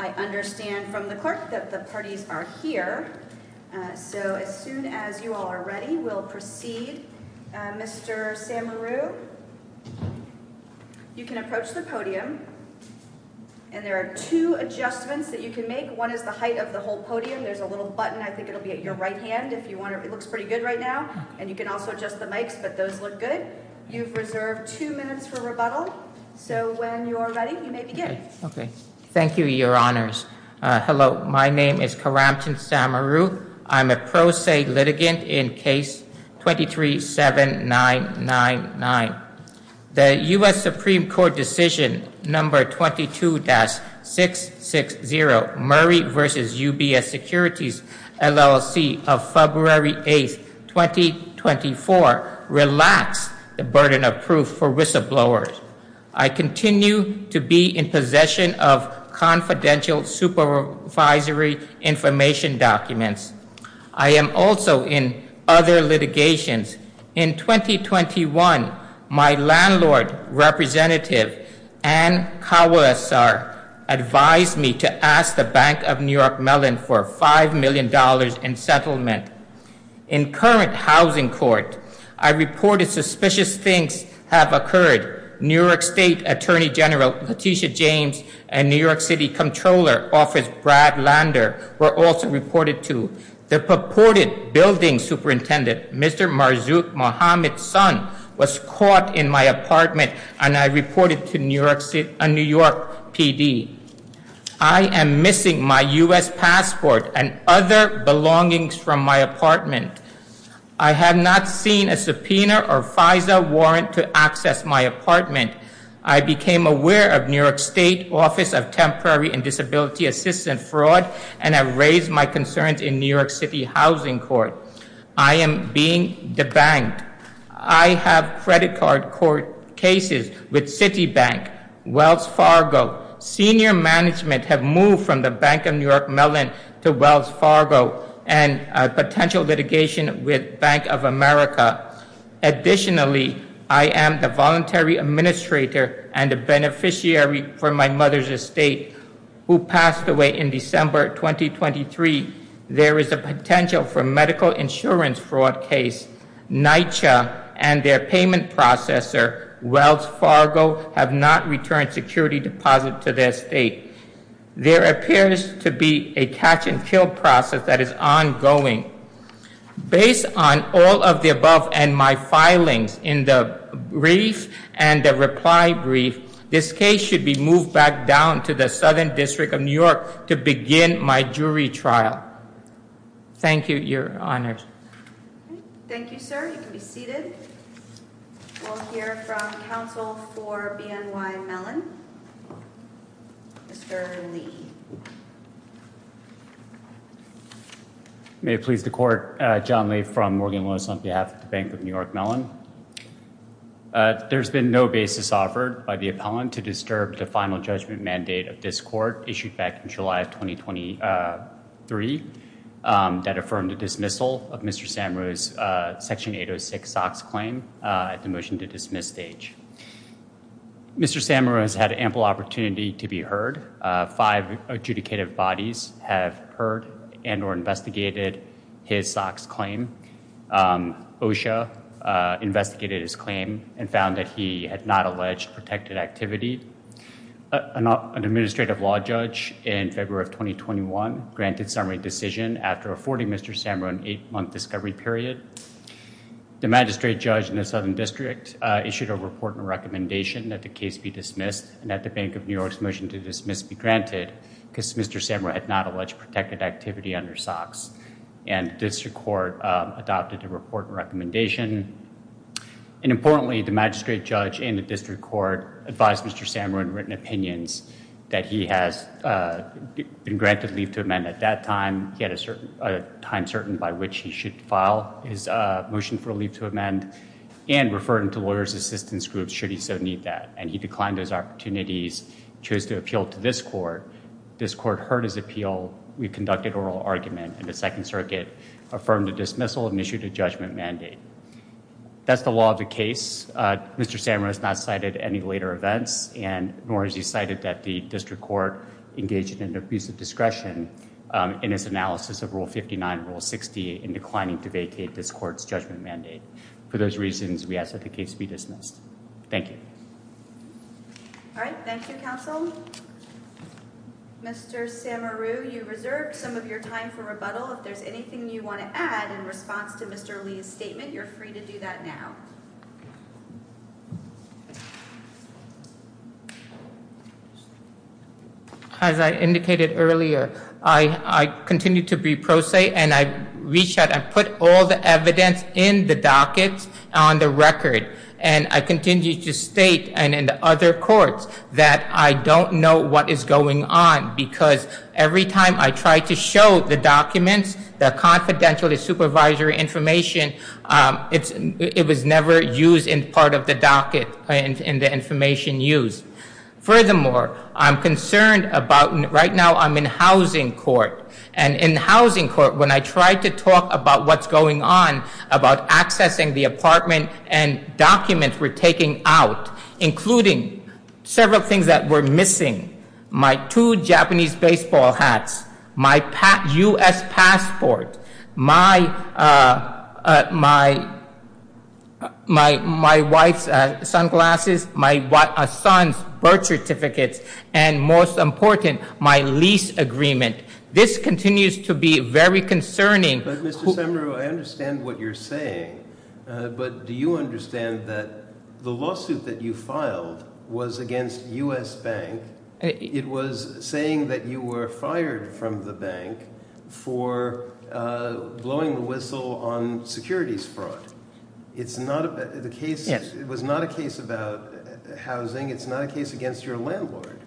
I understand from the clerk that the parties are here so as soon as you all are ready we'll proceed Mr. Samaroo you can approach the podium and there are two adjustments that you can make one is the height of the whole podium there's a little button I think it'll be at your right hand if you want it looks pretty good right now and you can also adjust the mics but those look good you've reserved two minutes for rebuttal so when you're ready you may begin okay thank you your honors hello my name is Karamton Samaroo I'm a pro se litigant in case 23 7 9 9 9 the US Supreme Court decision number 22-6 6 0 Murray versus UBS securities LLC of February 8th 2024 relax the burden of proof for whistleblowers I continue to be in possession of confidential supervisory information documents I am also in other litigations in 2021 my landlord representative and Kawas are advised me to ask the Bank of New York Mellon for five million dollars in settlement in current housing court I reported suspicious things have occurred New York State Attorney General Letitia James and New York City Comptroller Office Brad Lander were also reported to the purported building superintendent mr. Marzook Mohammed son was caught in my apartment and I apartment I have not seen a subpoena or FISA warrant to access my apartment I became aware of New York State Office of Temporary and Disability Assistant fraud and I raised my concerns in New York City Housing Court I am being the bank I have credit card court cases with City Bank Wells Fargo senior management have moved from the Bank of New York Mellon to Wells Fargo and potential litigation with Bank of America additionally I am the voluntary administrator and a beneficiary for my mother's estate who passed away in December 2023 there is a potential for medical insurance fraud case NYCHA and their payment processor Wells Fargo have not returned security deposit to their state there appears to be a catch-and-kill process that is ongoing based on all of the above and my filings in the brief and the reply brief this case should be moved back down to the Southern District of New York to begin my jury trial thank you your honors may please the court John Lee from Morgan was on behalf of the Bank of New York Mellon there's been no basis offered by the appellant to disturb the final judgment mandate of this court issued back in July of 2023 that affirmed the dismissal of mr. Sam Rose section 806 socks claim at the has had ample opportunity to be heard five adjudicative bodies have heard and or investigated his socks claim OSHA investigated his claim and found that he had not alleged protected activity an administrative law judge in February of 2021 granted summary decision after a 40 mr. Samron eight-month discovery period the magistrate judge in the Southern District issued a report and recommendation that the case be dismissed and that the Bank of New York's motion to dismiss be granted because mr. Samra had not alleged protected activity under socks and district court adopted a report recommendation and importantly the magistrate judge in the district court advised mr. Samron written opinions that he has been granted leave to amend at that time he had a certain time certain by which he should file his motion for a leave to amend and referring to lawyers assistance groups should he so need that and he declined those opportunities chose to appeal to this court this court heard his appeal we conducted oral argument and the second circuit affirmed the dismissal and issued a judgment mandate that's the law of the case uh mr. Samra has not cited any later events and nor has he cited that the district court engaged in abusive discretion in his analysis of rule 59 rule 60 in declining to vacate this court's judgment mandate for those reasons we ask that the case be dismissed thank you all right thank you counsel mr. Samaru you reserved some of your time for rebuttal if there's anything you want to add in response to mr. Lee's statement you're free to do that now as i indicated earlier i i continue to be pro se and i put all the evidence in the dockets on the record and i continue to state and in other courts that i don't know what is going on because every time i try to show the documents the confidentiality supervisory information um it's it was never used in part of the docket and in the information used furthermore i'm concerned about right now i'm in housing court and in housing when i try to talk about what's going on about accessing the apartment and documents we're taking out including several things that were missing my two japanese baseball hats my pat u.s passport my uh my my my wife's uh sunglasses my what a son's birth certificates and most important my lease agreement this continues to be very concerning but mr samaru i understand what you're saying but do you understand that the lawsuit that you filed was against u.s bank it was saying that you were fired from the bank for uh blowing the whistle on securities fraud it's not about the case it was not a case about housing it's not a case against your landlord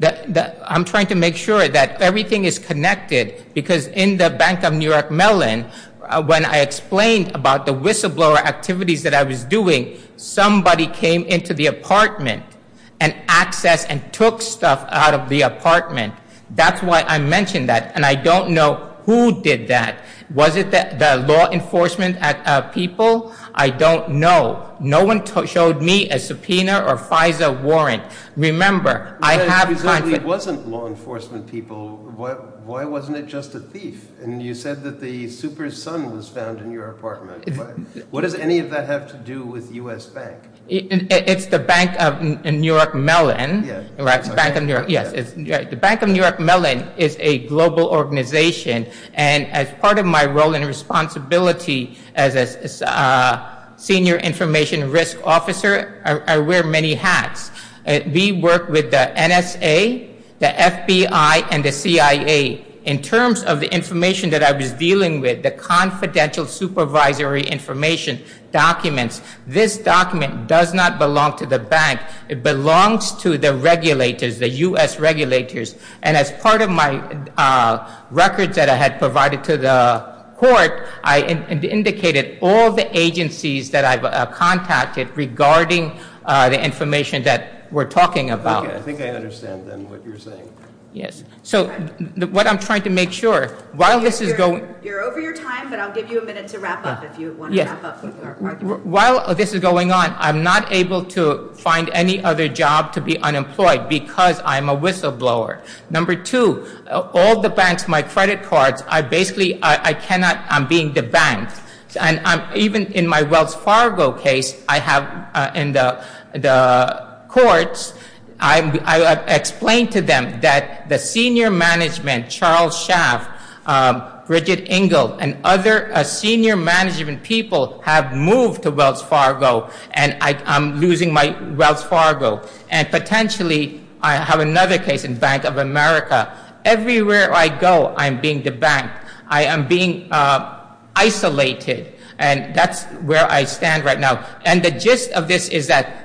i'm trying to make sure that everything is connected because in the bank of new york mellon when i explained about the whistleblower activities that i was doing somebody came into the apartment and accessed and took stuff out of the apartment that's why i mentioned that and i don't know who did that was it the law enforcement at uh people i don't know no one showed me a subpoena or fiza warrant remember i have it wasn't law enforcement people what why wasn't it just a thief and you said that the super sun was found in your apartment what does any of that have to do with u.s bank it's the bank of new york mellon yeah right the bank of new york mellon is a global organization and as part of my role and responsibility as a senior information risk officer i wear many hats we work with the nsa the fbi and the cia in terms of the information that i was dealing with the confidential supervisory information documents this document does not belong to the bank it belongs to the regulators the u.s regulators and as part of my records that i had provided to the court i indicated all the agencies that i've contacted regarding uh the information that we're talking about okay i think i understand then what you're saying yes so what i'm trying to make sure while this is going you're over your time but i'll give you a minute to wrap up if you while this is going on i'm not able to find any other job to be unemployed because i'm a the bank and i'm even in my wells fargo case i have in the the courts i've explained to them that the senior management charles schaaf um bridget engel and other senior management people have moved to wells fargo and i i'm losing my wells fargo and potentially i have another case bank of america everywhere i go i'm being the bank i am being uh isolated and that's where i stand right now and the gist of this is that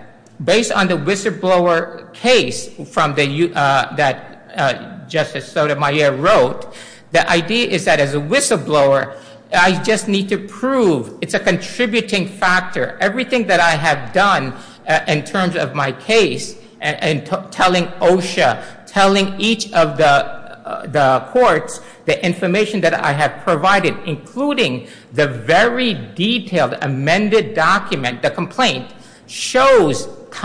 based on the whistleblower case from the uh that uh justice sotomayor wrote the idea is that as a whistleblower i just need to prove it's a each of the the courts the information that i have provided including the very detailed amended document the complaint shows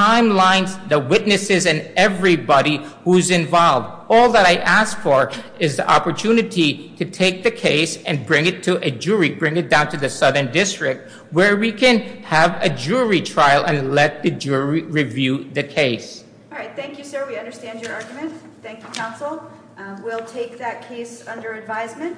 timelines the witnesses and everybody who's involved all that i asked for is the opportunity to take the case and bring it to a jury bring it down to the southern district where we can have a jury trial and let the jury review the case all right thank you sir understand your argument thank you counsel we'll take that case under advisement